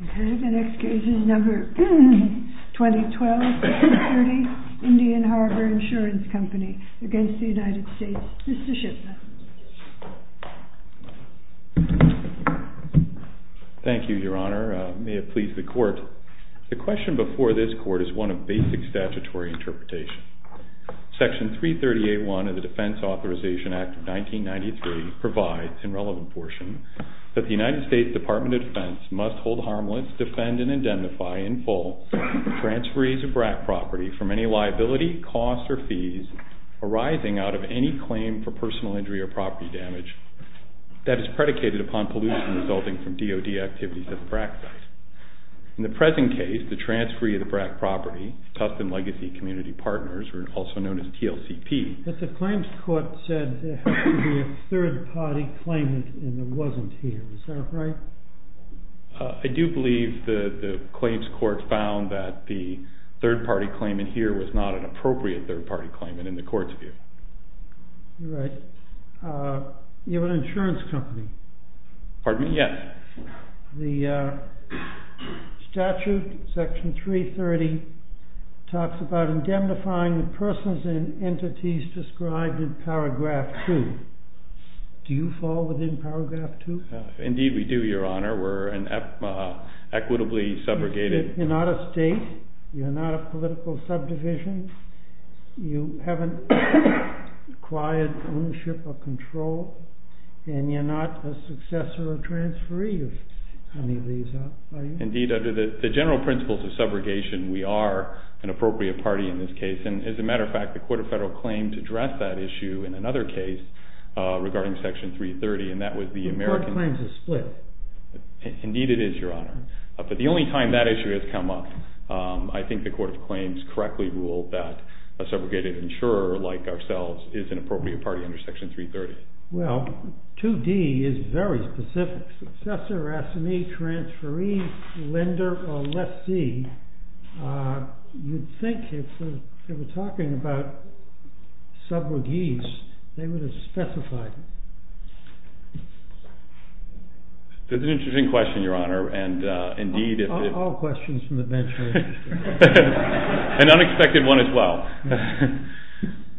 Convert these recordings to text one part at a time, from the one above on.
Mr. Shipman. Thank you, Your Honor. May it please the Court. The question before this Court is one of basic statutory interpretation. Section 330A.1 of the Defense Authorization Act of 1993 provides, in relevant portion, that the United States Department of Defense must hold harmless, defend, and indemnify, in full, transferees of BRAC property from any liability, costs, or fees arising out of any claim for personal injury or property damage that is predicated upon pollution resulting from DOD activities at the BRAC site. In the present case, the transferee of the BRAC property, Tuftson Legacy Community Partners, or also known as TLCP- The claims court said there had to be a third party claimant and it wasn't here. Is that right? I do believe the claims court found that the third party claimant here was not an appropriate third party claimant in the Court's view. You have an insurance company. Pardon me? Yes. The statute, section 330, talks about indemnifying the persons and entities described in paragraph 2. Do you fall within paragraph 2? Indeed, we do, Your Honor. We're an equitably subrogated- You're not a state. You're not a political subdivision. You haven't acquired ownership or control, and you're not a successor or transferee of any of these, are you? Indeed, under the general principles of subrogation, we are an appropriate party in this case. And as a matter of fact, the Court of Federal Claims addressed that issue in another case regarding section 330, and that was the American- The Court of Claims is split. Indeed, it is, Your Honor. But the only time that issue has come up, I think the Court of Claims correctly ruled that a subrogated insurer like ourselves is an appropriate party under section 330. Well, 2D is very specific. Successor, assignee, transferee, lender, or lessee. You'd think if they were talking about subrogates, they would have specified it. That's an interesting question, Your Honor, and indeed- All questions from the bench are interesting. An unexpected one as well.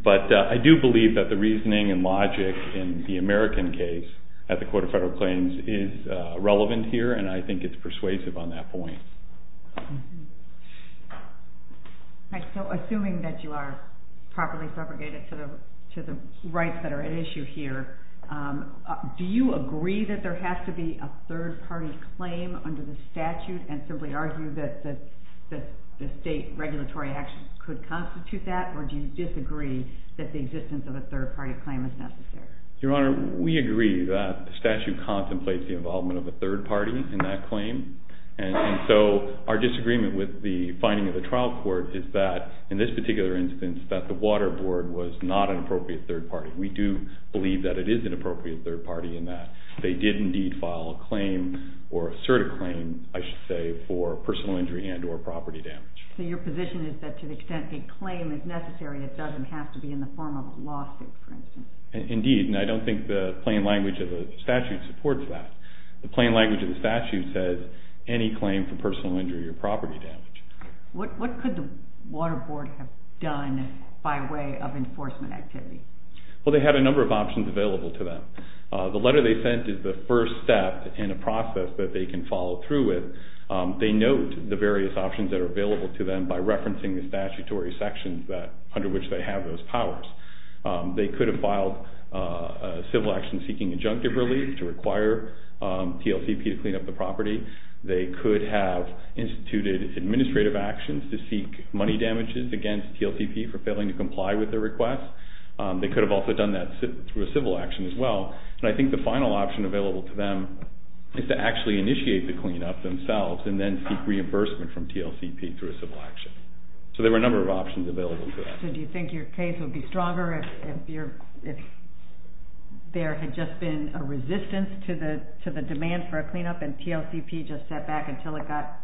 But I do believe that the reasoning and logic in the American case at the Court of Federal Claims is relevant here, and I think it's persuasive on that point. All right, so assuming that you are properly subrogated to the rights that are at issue here, do you agree that there has to be a third-party claim under the statute and simply argue that the state regulatory action could constitute that, or do you disagree that the existence of a third-party claim is necessary? Your Honor, we agree that the statute contemplates the involvement of a third party in that claim, and so our disagreement with the finding of the trial court is that, in this particular instance, that the Water Board was not an appropriate third party. We do believe that it is an appropriate third party in that they did indeed file a claim, or assert a claim, I should say, for personal injury and or property damage. So your position is that to the extent a claim is necessary, it doesn't have to be in the form of a lawsuit, for instance? Indeed, and I don't think the plain language of the statute supports that. The plain language of the statute says any claim for personal injury or property damage. What could the Water Board have done by way of enforcement activity? Well, they have a number of options available to them. The letter they sent is the first step in a process that they can follow through with. They note the various options that are available to them by referencing the statutory sections under which they have those powers. They could have filed a civil action seeking injunctive relief to require TLCP to clean up the property. They could have instituted administrative actions to seek money damages against TLCP for failing to comply with their request. They could have also done that through a civil action as well. And I think the final option available to them is to actually initiate the cleanup themselves and then seek reimbursement from TLCP through a civil action. So there were a number of options available for that. So do you think your case would be stronger if there had just been a resistance to the demand for a cleanup and TLCP just sat back until it got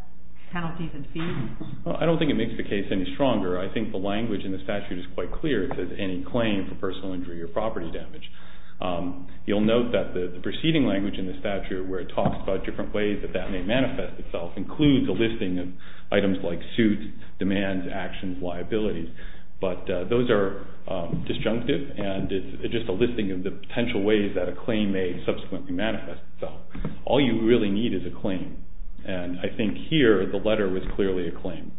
penalties and fees? Well, I don't think it makes the case any stronger. I think the language in the statute is quite clear. It says any claim for personal injury or property damage. You'll note that the proceeding language in the statute where it talks about different ways that that may manifest itself includes a listing of items like suits, demands, actions, liabilities. But those are disjunctive and it's just a listing of the potential ways that a claim may subsequently manifest itself. All you really need is a claim. And I think here the letter was clearly a claim.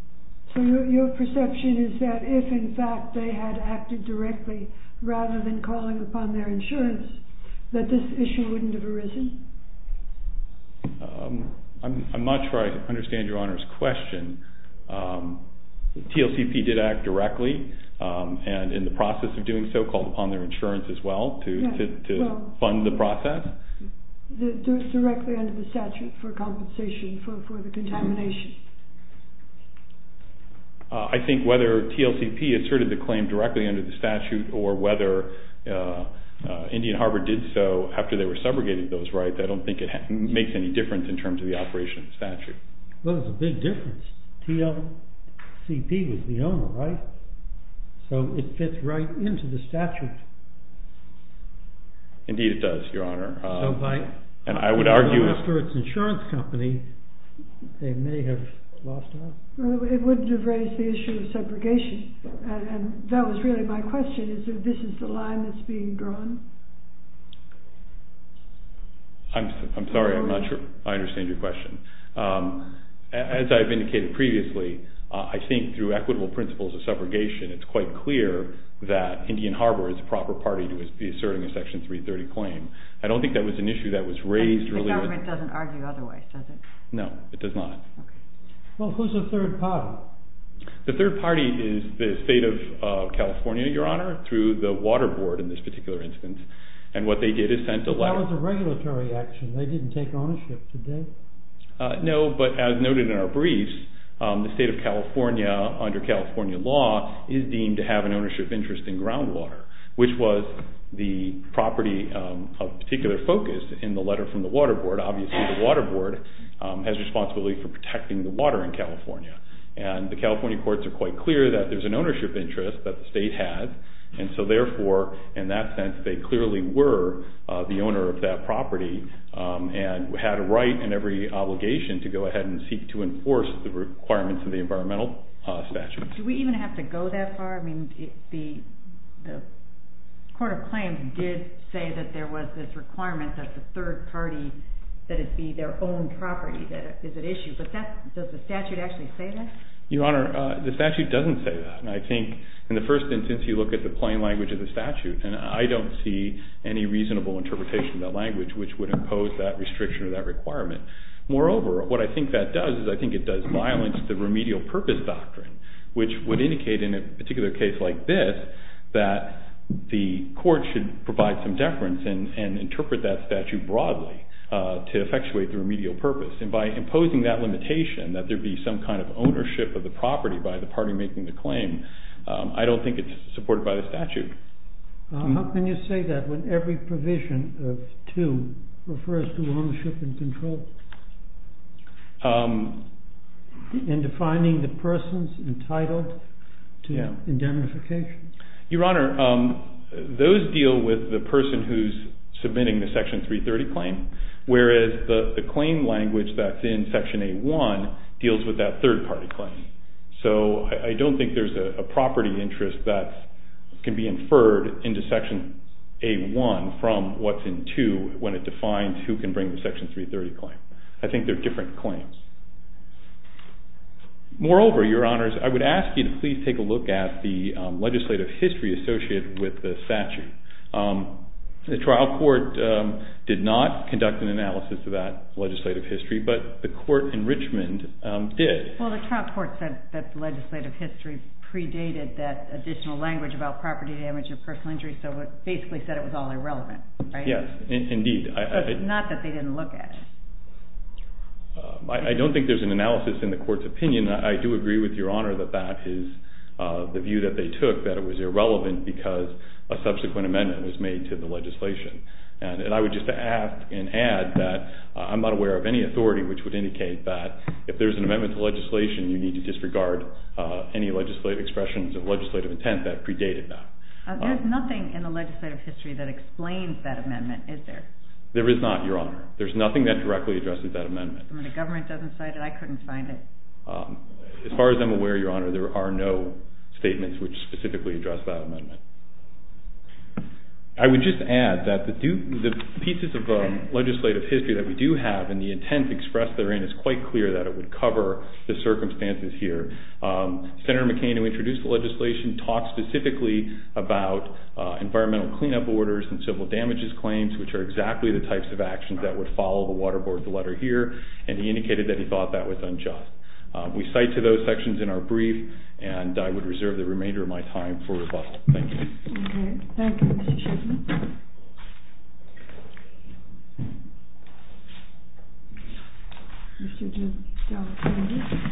So your perception is that if in fact they had acted directly rather than calling upon their insurance that this issue wouldn't have arisen? I'm not sure I understand Your Honor's question. TLCP did act directly and in the process of doing so called upon their insurance as well to fund the process? Directly under the statute for compensation for the contamination? I think whether TLCP asserted the claim directly under the statute or whether Indian Harbor did so after they were segregated those rights, I don't think it makes any difference in terms of the operation of the statute. Well, it's a big difference. TLCP was the owner, right? So it fits right into the statute. Indeed it does, Your Honor. So after its insurance company, they may have lost out? It wouldn't have raised the issue of segregation. And that was really my question, is that this is the line that's being drawn? I'm sorry, I'm not sure I understand your question. As I've indicated previously, I think through equitable principles of segregation it's quite clear that Indian Harbor is the proper party to be asserting a Section 330 claim. I don't think that was an issue that was raised. The government doesn't argue otherwise, does it? No, it does not. Well, who's the third party? The third party is the state of California, Your Honor, through the water board in this particular instance. And what they did is sent a letter. That was a regulatory action. They didn't take ownership, did they? No, but as noted in our briefs, the state of California under California law is deemed to have an ownership interest in groundwater, which was the property of particular focus in the letter from the water board. Obviously the water board has responsibility for protecting the water in California. And the California courts are quite clear that there's an ownership interest that the state has. And so therefore, in that sense, they clearly were the owner of that property and had a right and every obligation to go ahead and seek to enforce the requirements of the environmental statute. Do we even have to go that far? I mean, the court of claims did say that there was this requirement that the third party, that it be their own property. Is it an issue? Does the statute actually say that? Your Honor, the statute doesn't say that. And I think in the first instance, you look at the plain language of the statute, and I don't see any reasonable interpretation of that language, which would impose that restriction or that requirement. Moreover, what I think that does is I think it does violence the remedial purpose doctrine, which would indicate in a particular case like this, that the court should provide some deference and interpret that statute broadly to effectuate the remedial purpose. And by imposing that limitation, that there be some kind of ownership of the property by the party making the claim, I don't think it's supported by the statute. How can you say that when every provision of two refers to ownership and control? In defining the person's entitled to indemnification? Your Honor, those deal with the person who's submitting the Section 330 claim, whereas the claim language that's in Section A1 deals with that third party claim. So I don't think there's a property interest that can be inferred into Section A1 from what's in 2 when it defines who can bring the Section 330 claim. I think they're different claims. Moreover, Your Honors, I would ask you to please take a look at the legislative history associated with the statute. The trial court did not conduct an analysis of that legislative history, but the court in Richmond did. Well, the trial court said that the legislative history predated that additional language about property damage or personal injury, so it basically said it was all irrelevant, right? Yes, indeed. Not that they didn't look at it. I don't think there's an analysis in the court's opinion. I do agree with Your Honor that that is the view that they took, that it was irrelevant because a subsequent amendment was made to the legislation. And I would just ask and add that I'm not aware of any authority which would indicate that if there's an amendment to legislation, you need to disregard any legislative expressions or legislative intent that predated that. There's nothing in the legislative history that explains that amendment, is there? There is not, Your Honor. There's nothing that directly addresses that amendment. And when the government doesn't cite it, I couldn't find it. As far as I'm aware, Your Honor, there are no statements which specifically address that amendment. I would just add that the pieces of legislative history that we do have and the intent expressed therein is quite clear that it would cover the circumstances here. Senator McCain, who introduced the legislation, talked specifically about environmental cleanup orders and civil damages claims, which are exactly the types of actions that would follow the Water Board's letter here, and he indicated that he thought that was unjust. We cite to those sections in our brief, and I would reserve the remainder of my time for rebuttal. Thank you. Okay. Thank you, Mr. Chisholm.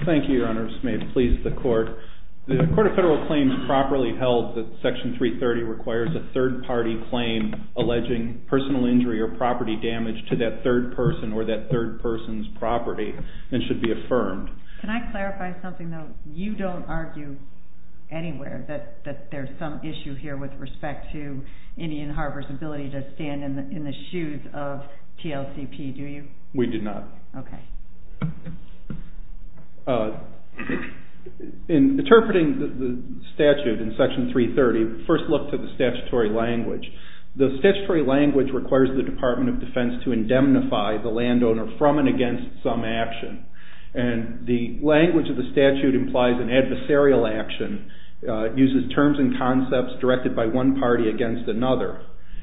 Thank you, Your Honors. May it please the Court. The Court of Federal Claims properly held that Section 330 requires a third-party claim alleging personal injury or property damage to that third person or that third person's property and should be affirmed. Can I clarify something, though? You don't argue anywhere that there's some issue here with respect to Indian Heart Association to stand in the shoes of TLCP, do you? We do not. Okay. In interpreting the statute in Section 330, first look to the statutory language. The statutory language requires the Department of Defense to indemnify the landowner from and against some action, and the language of the statute implies an adversarial action, uses terms and concepts directed by one party against another,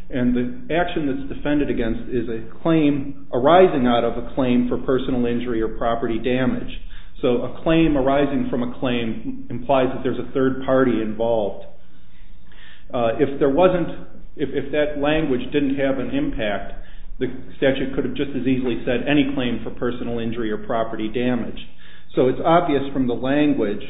and the action that's defended against is a claim arising out of a claim for personal injury or property damage. So a claim arising from a claim implies that there's a third party involved. If that language didn't have an impact, the statute could have just as easily said any claim for personal injury or property damage. So it's obvious from the language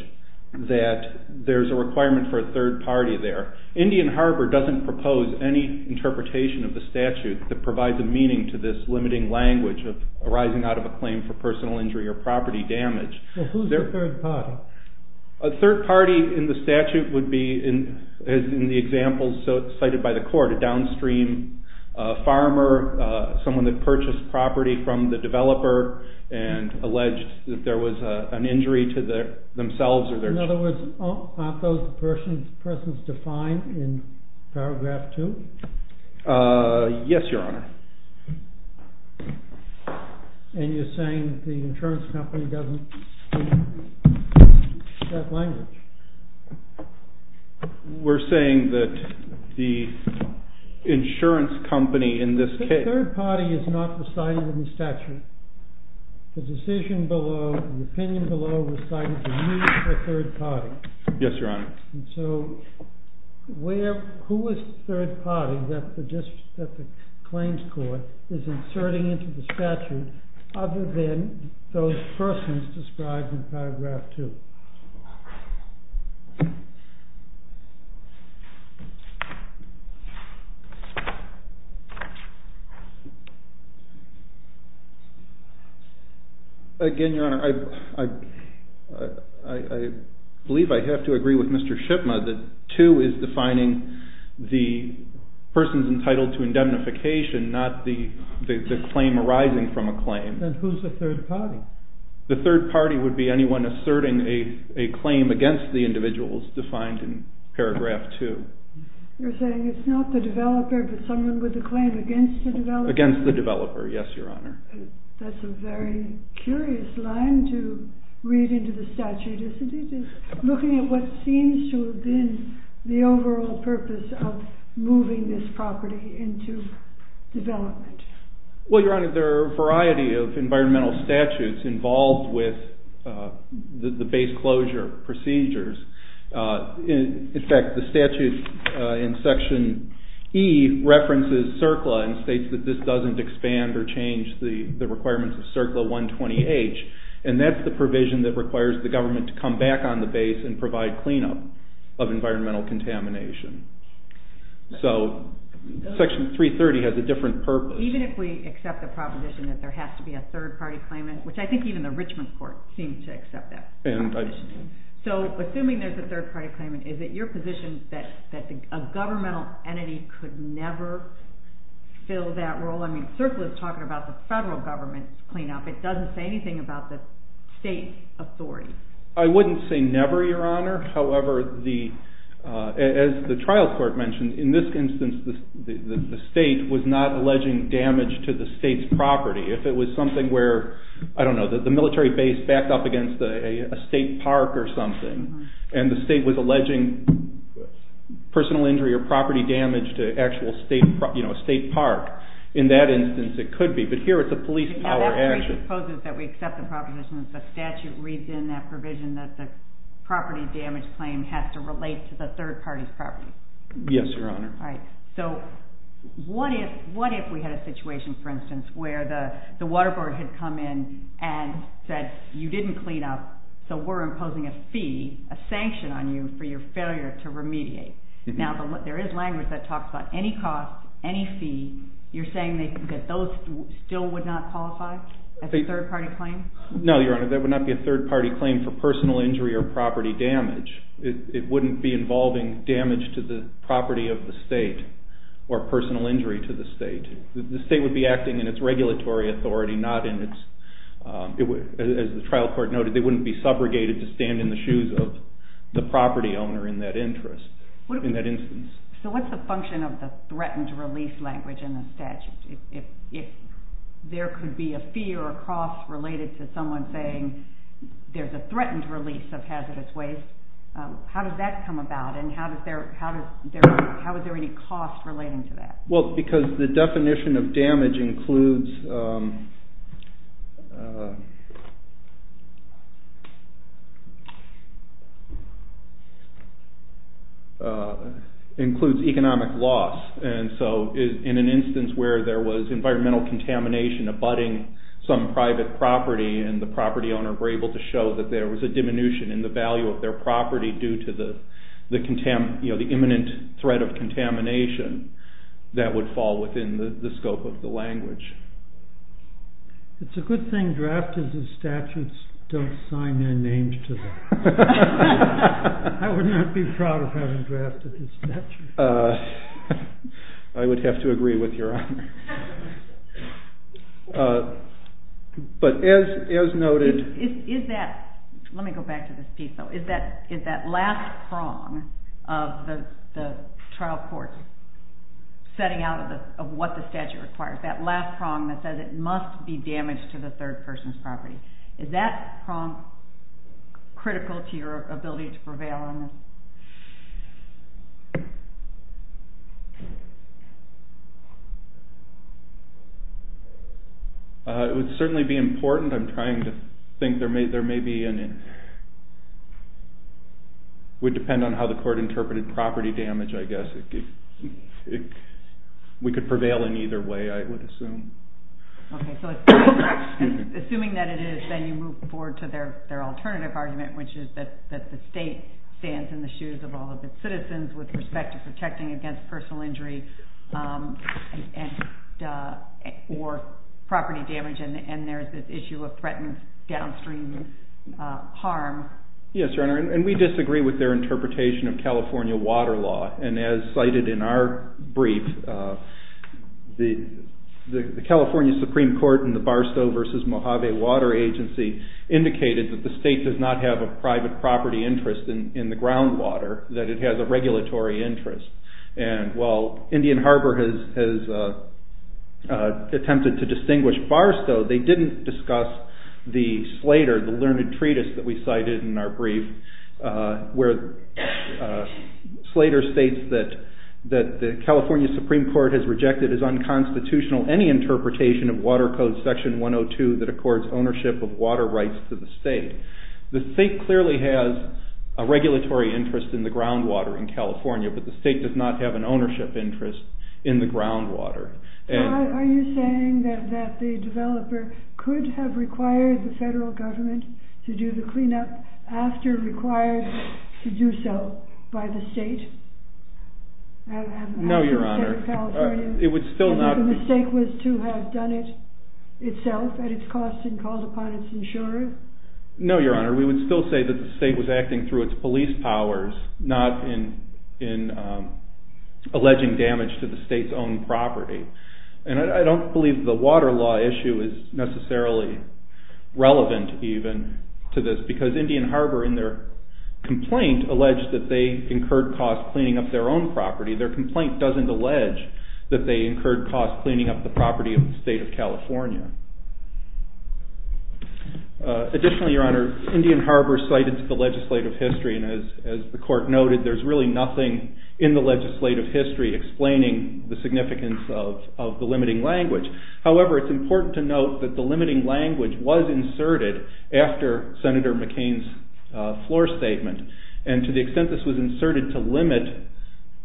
that there's a requirement for a third party there. Indian Harbor doesn't propose any interpretation of the statute that provides a meaning to this limiting language of arising out of a claim for personal injury or property damage. Well, who's the third party? A third party in the statute would be, as in the examples cited by the court, and alleged that there was an injury to themselves or their children. In other words, aren't those persons defined in paragraph 2? Yes, Your Honor. And you're saying the insurance company doesn't speak that language? We're saying that the insurance company in this case... ...was not recited in the statute. The decision below, the opinion below, recited to you as a third party. Yes, Your Honor. And so who is the third party that the claims court is inserting into the statute other than those persons described in paragraph 2? Again, Your Honor, I believe I have to agree with Mr. Shipma that 2 is defining the persons entitled to indemnification, not the claim arising from a claim. Then who's the third party? The third party would be anyone asserting a claim against the individuals defined in paragraph 2. You're saying it's not the developer, but someone with a claim against the developer? Yes, Your Honor. That's a very curious line to read into the statute, isn't it? Looking at what seems to have been the overall purpose of moving this property into development. Well, Your Honor, there are a variety of environmental statutes involved with the base closure procedures. In fact, the statute in section E references CERCLA and states that this doesn't expand or change the requirements of CERCLA 120H, and that's the provision that requires the government to come back on the base and provide cleanup of environmental contamination. So section 330 has a different purpose. Even if we accept the proposition that there has to be a third party claimant, which I think even the Richmond court seems to accept that proposition. So assuming there's a third party claimant, is it your position that a governmental entity could never fill that role? I mean, CERCLA is talking about the federal government's cleanup. It doesn't say anything about the state's authority. I wouldn't say never, Your Honor. However, as the trial court mentioned, in this instance, the state was not alleging damage to the state's property. If it was something where, I don't know, the military base backed up against a state park or something, and the state was alleging personal injury or property damage to an actual state park, in that instance it could be, but here it's a police power action. Now that presupposes that we accept the proposition that the statute reads in that provision that the property damage claim has to relate to the third party's property. Yes, Your Honor. All right. So what if we had a situation, for instance, where the water board had come in and said you didn't clean up, so we're imposing a fee, a sanction on you for your failure to remediate? Now there is language that talks about any cost, any fee. You're saying that those still would not qualify as a third party claim? No, Your Honor. That would not be a third party claim for personal injury or property damage. It wouldn't be involving damage to the property of the state or personal injury to the state. The state would be acting in its regulatory authority, not in its, as the trial court noted, they wouldn't be subrogated to stand in the shoes of the property owner in that instance. So what's the function of the threatened release language in the statute? If there could be a fee or a cost related to someone saying there's a threatened release of hazardous waste, how does that come about? And how is there any cost relating to that? Well, because the definition of damage includes economic loss. And so in an instance where there was environmental contamination abutting some private property and the property owner were able to show that there was a diminution in the value of their property due to the imminent threat of contamination, that would fall within the scope of the language. It's a good thing drafters of statutes don't sign their names to them. I would not be proud of having drafted a statute. I would have to agree with Your Honor. But as noted... Is that, let me go back to this piece though, is that last prong of the trial court setting out of what the statute requires, that last prong that says it must be damaged to the third person's property, is that prong critical to your ability to prevail on this? It would certainly be important. I'm trying to think there may be an... It would depend on how the court interpreted property damage, I guess. We could prevail in either way, I would assume. Okay, so assuming that it is, then you move forward to their alternative argument, which is that the state stands in the shoes of all of its citizens with respect to protecting against personal injury or property damage, and there is this issue of threatened downstream harm. Yes, Your Honor, and we disagree with their interpretation of California water law. And as cited in our brief, the California Supreme Court in the Barstow v. Mojave Water Agency indicated that the state does not have a private property interest in the groundwater, that it has a regulatory interest. And while Indian Harbor has attempted to distinguish Barstow, they didn't discuss the Slater, the learned treatise that we cited in our brief, where Slater states that the California Supreme Court has rejected as unconstitutional any interpretation of Water Code Section 102 that accords ownership of water rights to the state. The state clearly has a regulatory interest in the groundwater in California, but the state does not have an ownership interest in the groundwater. Are you saying that the developer could have required the federal government to do the cleanup after required to do so by the state? No, Your Honor. The mistake was to have done it itself at its cost and called upon its insurer? No, Your Honor. We would still say that the state was acting through its police powers, not in alleging damage to the state's own property. And I don't believe the water law issue is necessarily relevant even to this because Indian Harbor, in their complaint, alleged that they incurred costs cleaning up their own property. Their complaint doesn't allege that they incurred costs cleaning up the property of the state of California. Additionally, Your Honor, Indian Harbor cited the legislative history, and as the court noted, there's really nothing in the legislative history explaining the significance of the limiting language. However, it's important to note that the limiting language was inserted after Senator McCain's floor statement, and to the extent this was inserted to limit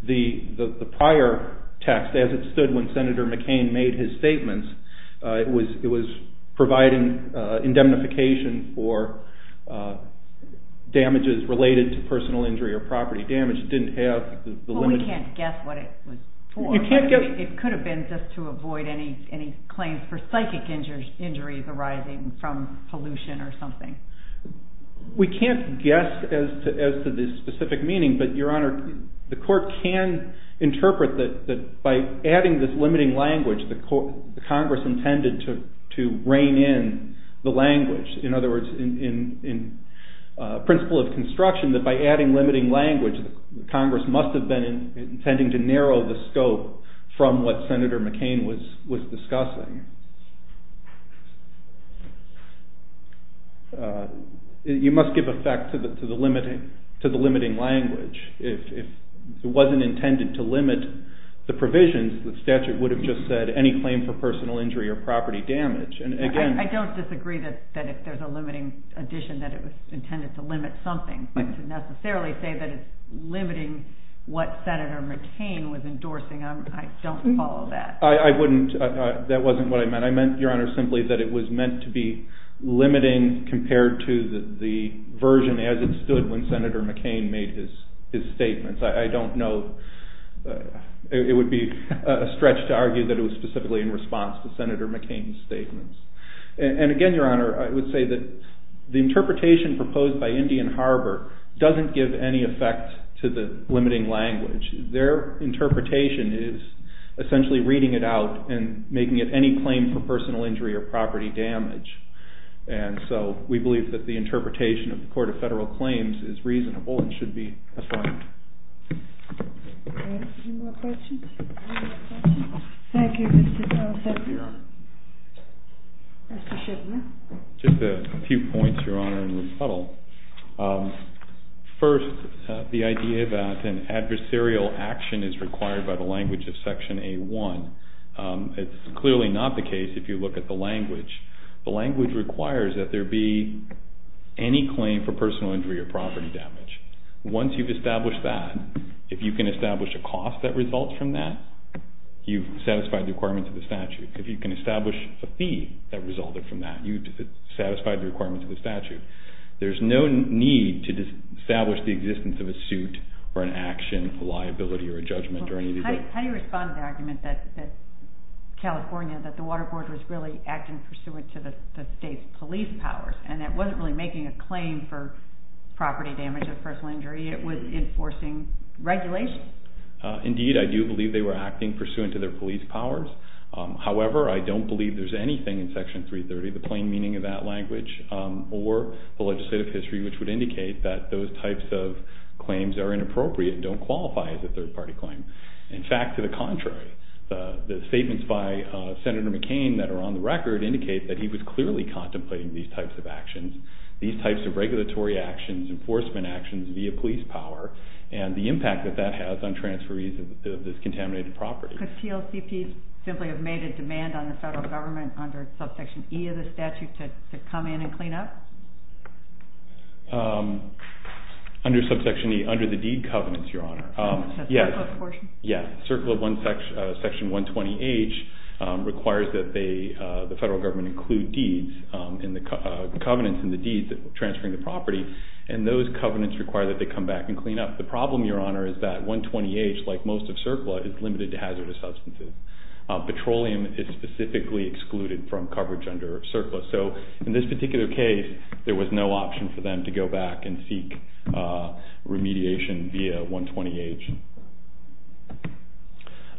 the prior text, as it stood when Senator McCain made his statements, it was providing indemnification for damages related to personal injury or property damage. Well, we can't guess what it was for. It could have been just to avoid any claims for psychic injuries arising from pollution or something. We can't guess as to the specific meaning, but Your Honor, the court can interpret that by adding this limiting language, the Congress intended to rein in the language. In other words, in principle of construction, that by adding limiting language, the Congress must have been intending to narrow the scope from what Senator McCain was discussing. You must give effect to the limiting language. If it wasn't intended to limit the provisions, the statute would have just said any claim for personal injury or property damage. I don't disagree that if there's a limiting addition, that it was intended to limit something, but to necessarily say that it's limiting what Senator McCain was endorsing, I don't follow that. I wouldn't. That wasn't what I meant. I meant, Your Honor, simply that it was meant to be limiting compared to the version as it stood when Senator McCain made his statements. I don't know. It would be a stretch to argue that it was specifically in response to Senator McCain's statements. And again, Your Honor, I would say that the interpretation proposed by Indian Harbor doesn't give any effect to the limiting language. Their interpretation is essentially reading it out and making it any claim for personal injury or property damage. And so we believe that the interpretation of the Court of Federal Claims is reasonable and should be affirmed. Any more questions? Thank you, Mr. Jones. Thank you, Your Honor. Just a few points, Your Honor, in rebuttal. First, the idea that an adversarial action is required by the language of Section A-1. It's clearly not the case if you look at the language. The language requires that there be any claim for personal injury or property damage. Once you've established that, if you can establish a cost that results from that, you've satisfied the requirements of the statute. If you can establish a fee that resulted from that, you've satisfied the requirements of the statute. There's no need to establish the existence of a suit or an action, a liability, or a judgment during the event. How do you respond to the argument that California, that the Water Board was really acting pursuant to the state's police powers and that it wasn't really making a claim for property damage or personal injury, it was enforcing regulations? Indeed, I do believe they were acting pursuant to their police powers. However, I don't believe there's anything in Section 330, the plain meaning of that language, or the legislative history which would indicate that those types of claims are inappropriate and don't qualify as a third-party claim. In fact, to the contrary, the statements by Senator McCain that are on the record indicate that he was clearly contemplating these types of actions, these types of regulatory actions, enforcement actions via police power, and the impact that that has on transferees of this contaminated property. Could TLCPs simply have made a demand on the federal government under Subsection E of the statute to come in and clean up? Under Subsection E, under the deed covenants, Your Honor. The CERCLA portion? Yes, CERCLA Section 120H requires that the federal government include deeds, covenants in the deeds transferring the property, and those covenants require that they come back and clean up. The problem, Your Honor, is that 120H, like most of CERCLA, is limited to hazardous substances. Petroleum is specifically excluded from coverage under CERCLA. So in this particular case, there was no option for them to go back and seek remediation via 120H.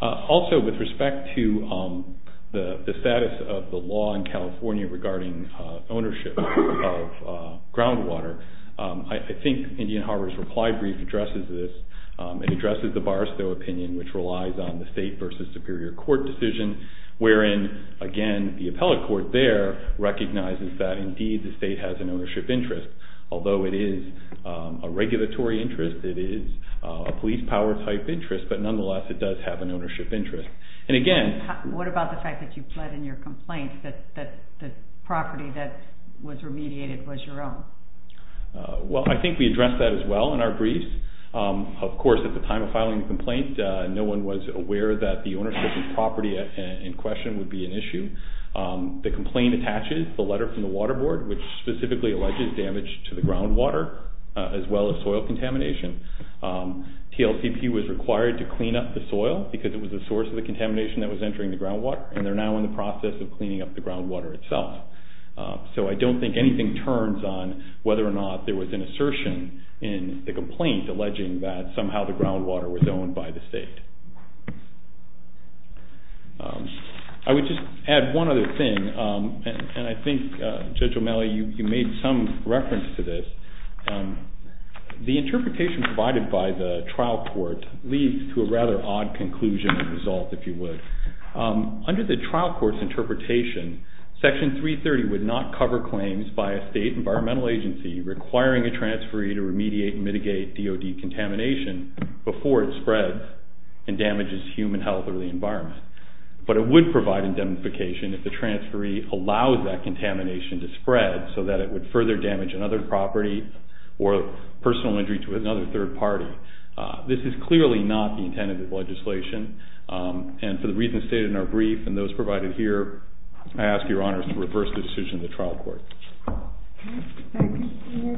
Also, with respect to the status of the law in California regarding ownership of groundwater, I think Indian Harbor's reply brief addresses this. It addresses the Barristow opinion, which relies on the state versus superior court decision, wherein, again, the appellate court there recognizes that indeed the state has an ownership interest. Although it is a regulatory interest, it is a police power type interest, but nonetheless it does have an ownership interest. And again... What about the fact that you pled in your complaint that the property that was remediated was your own? Well, I think we addressed that as well in our briefs. Of course, at the time of filing the complaint, no one was aware that the ownership of the property in question would be an issue. The complaint attaches the letter from the Water Board, which specifically alleges damage to the groundwater, as well as soil contamination. TLCP was required to clean up the soil because it was the source of the contamination that was entering the groundwater, and they're now in the process of cleaning up the groundwater itself. there was an assertion in the complaint alleging that somehow the groundwater was owned by the state. I would just add one other thing, and I think, Judge O'Malley, you made some reference to this. The interpretation provided by the trial court leads to a rather odd conclusion and result, if you would. Under the trial court's interpretation, Section 330 would not cover claims by a state environmental agency requiring a transferee to remediate and mitigate DOD contamination before it spreads and damages human health or the environment. But it would provide indemnification if the transferee allows that contamination to spread so that it would further damage another property or personal injury to another third party. This is clearly not the intent of this legislation, and for the reasons stated in our brief and those provided here, I ask your honors to reverse the decision of the trial court. Any more questions? Thank you, Mr. Shipman.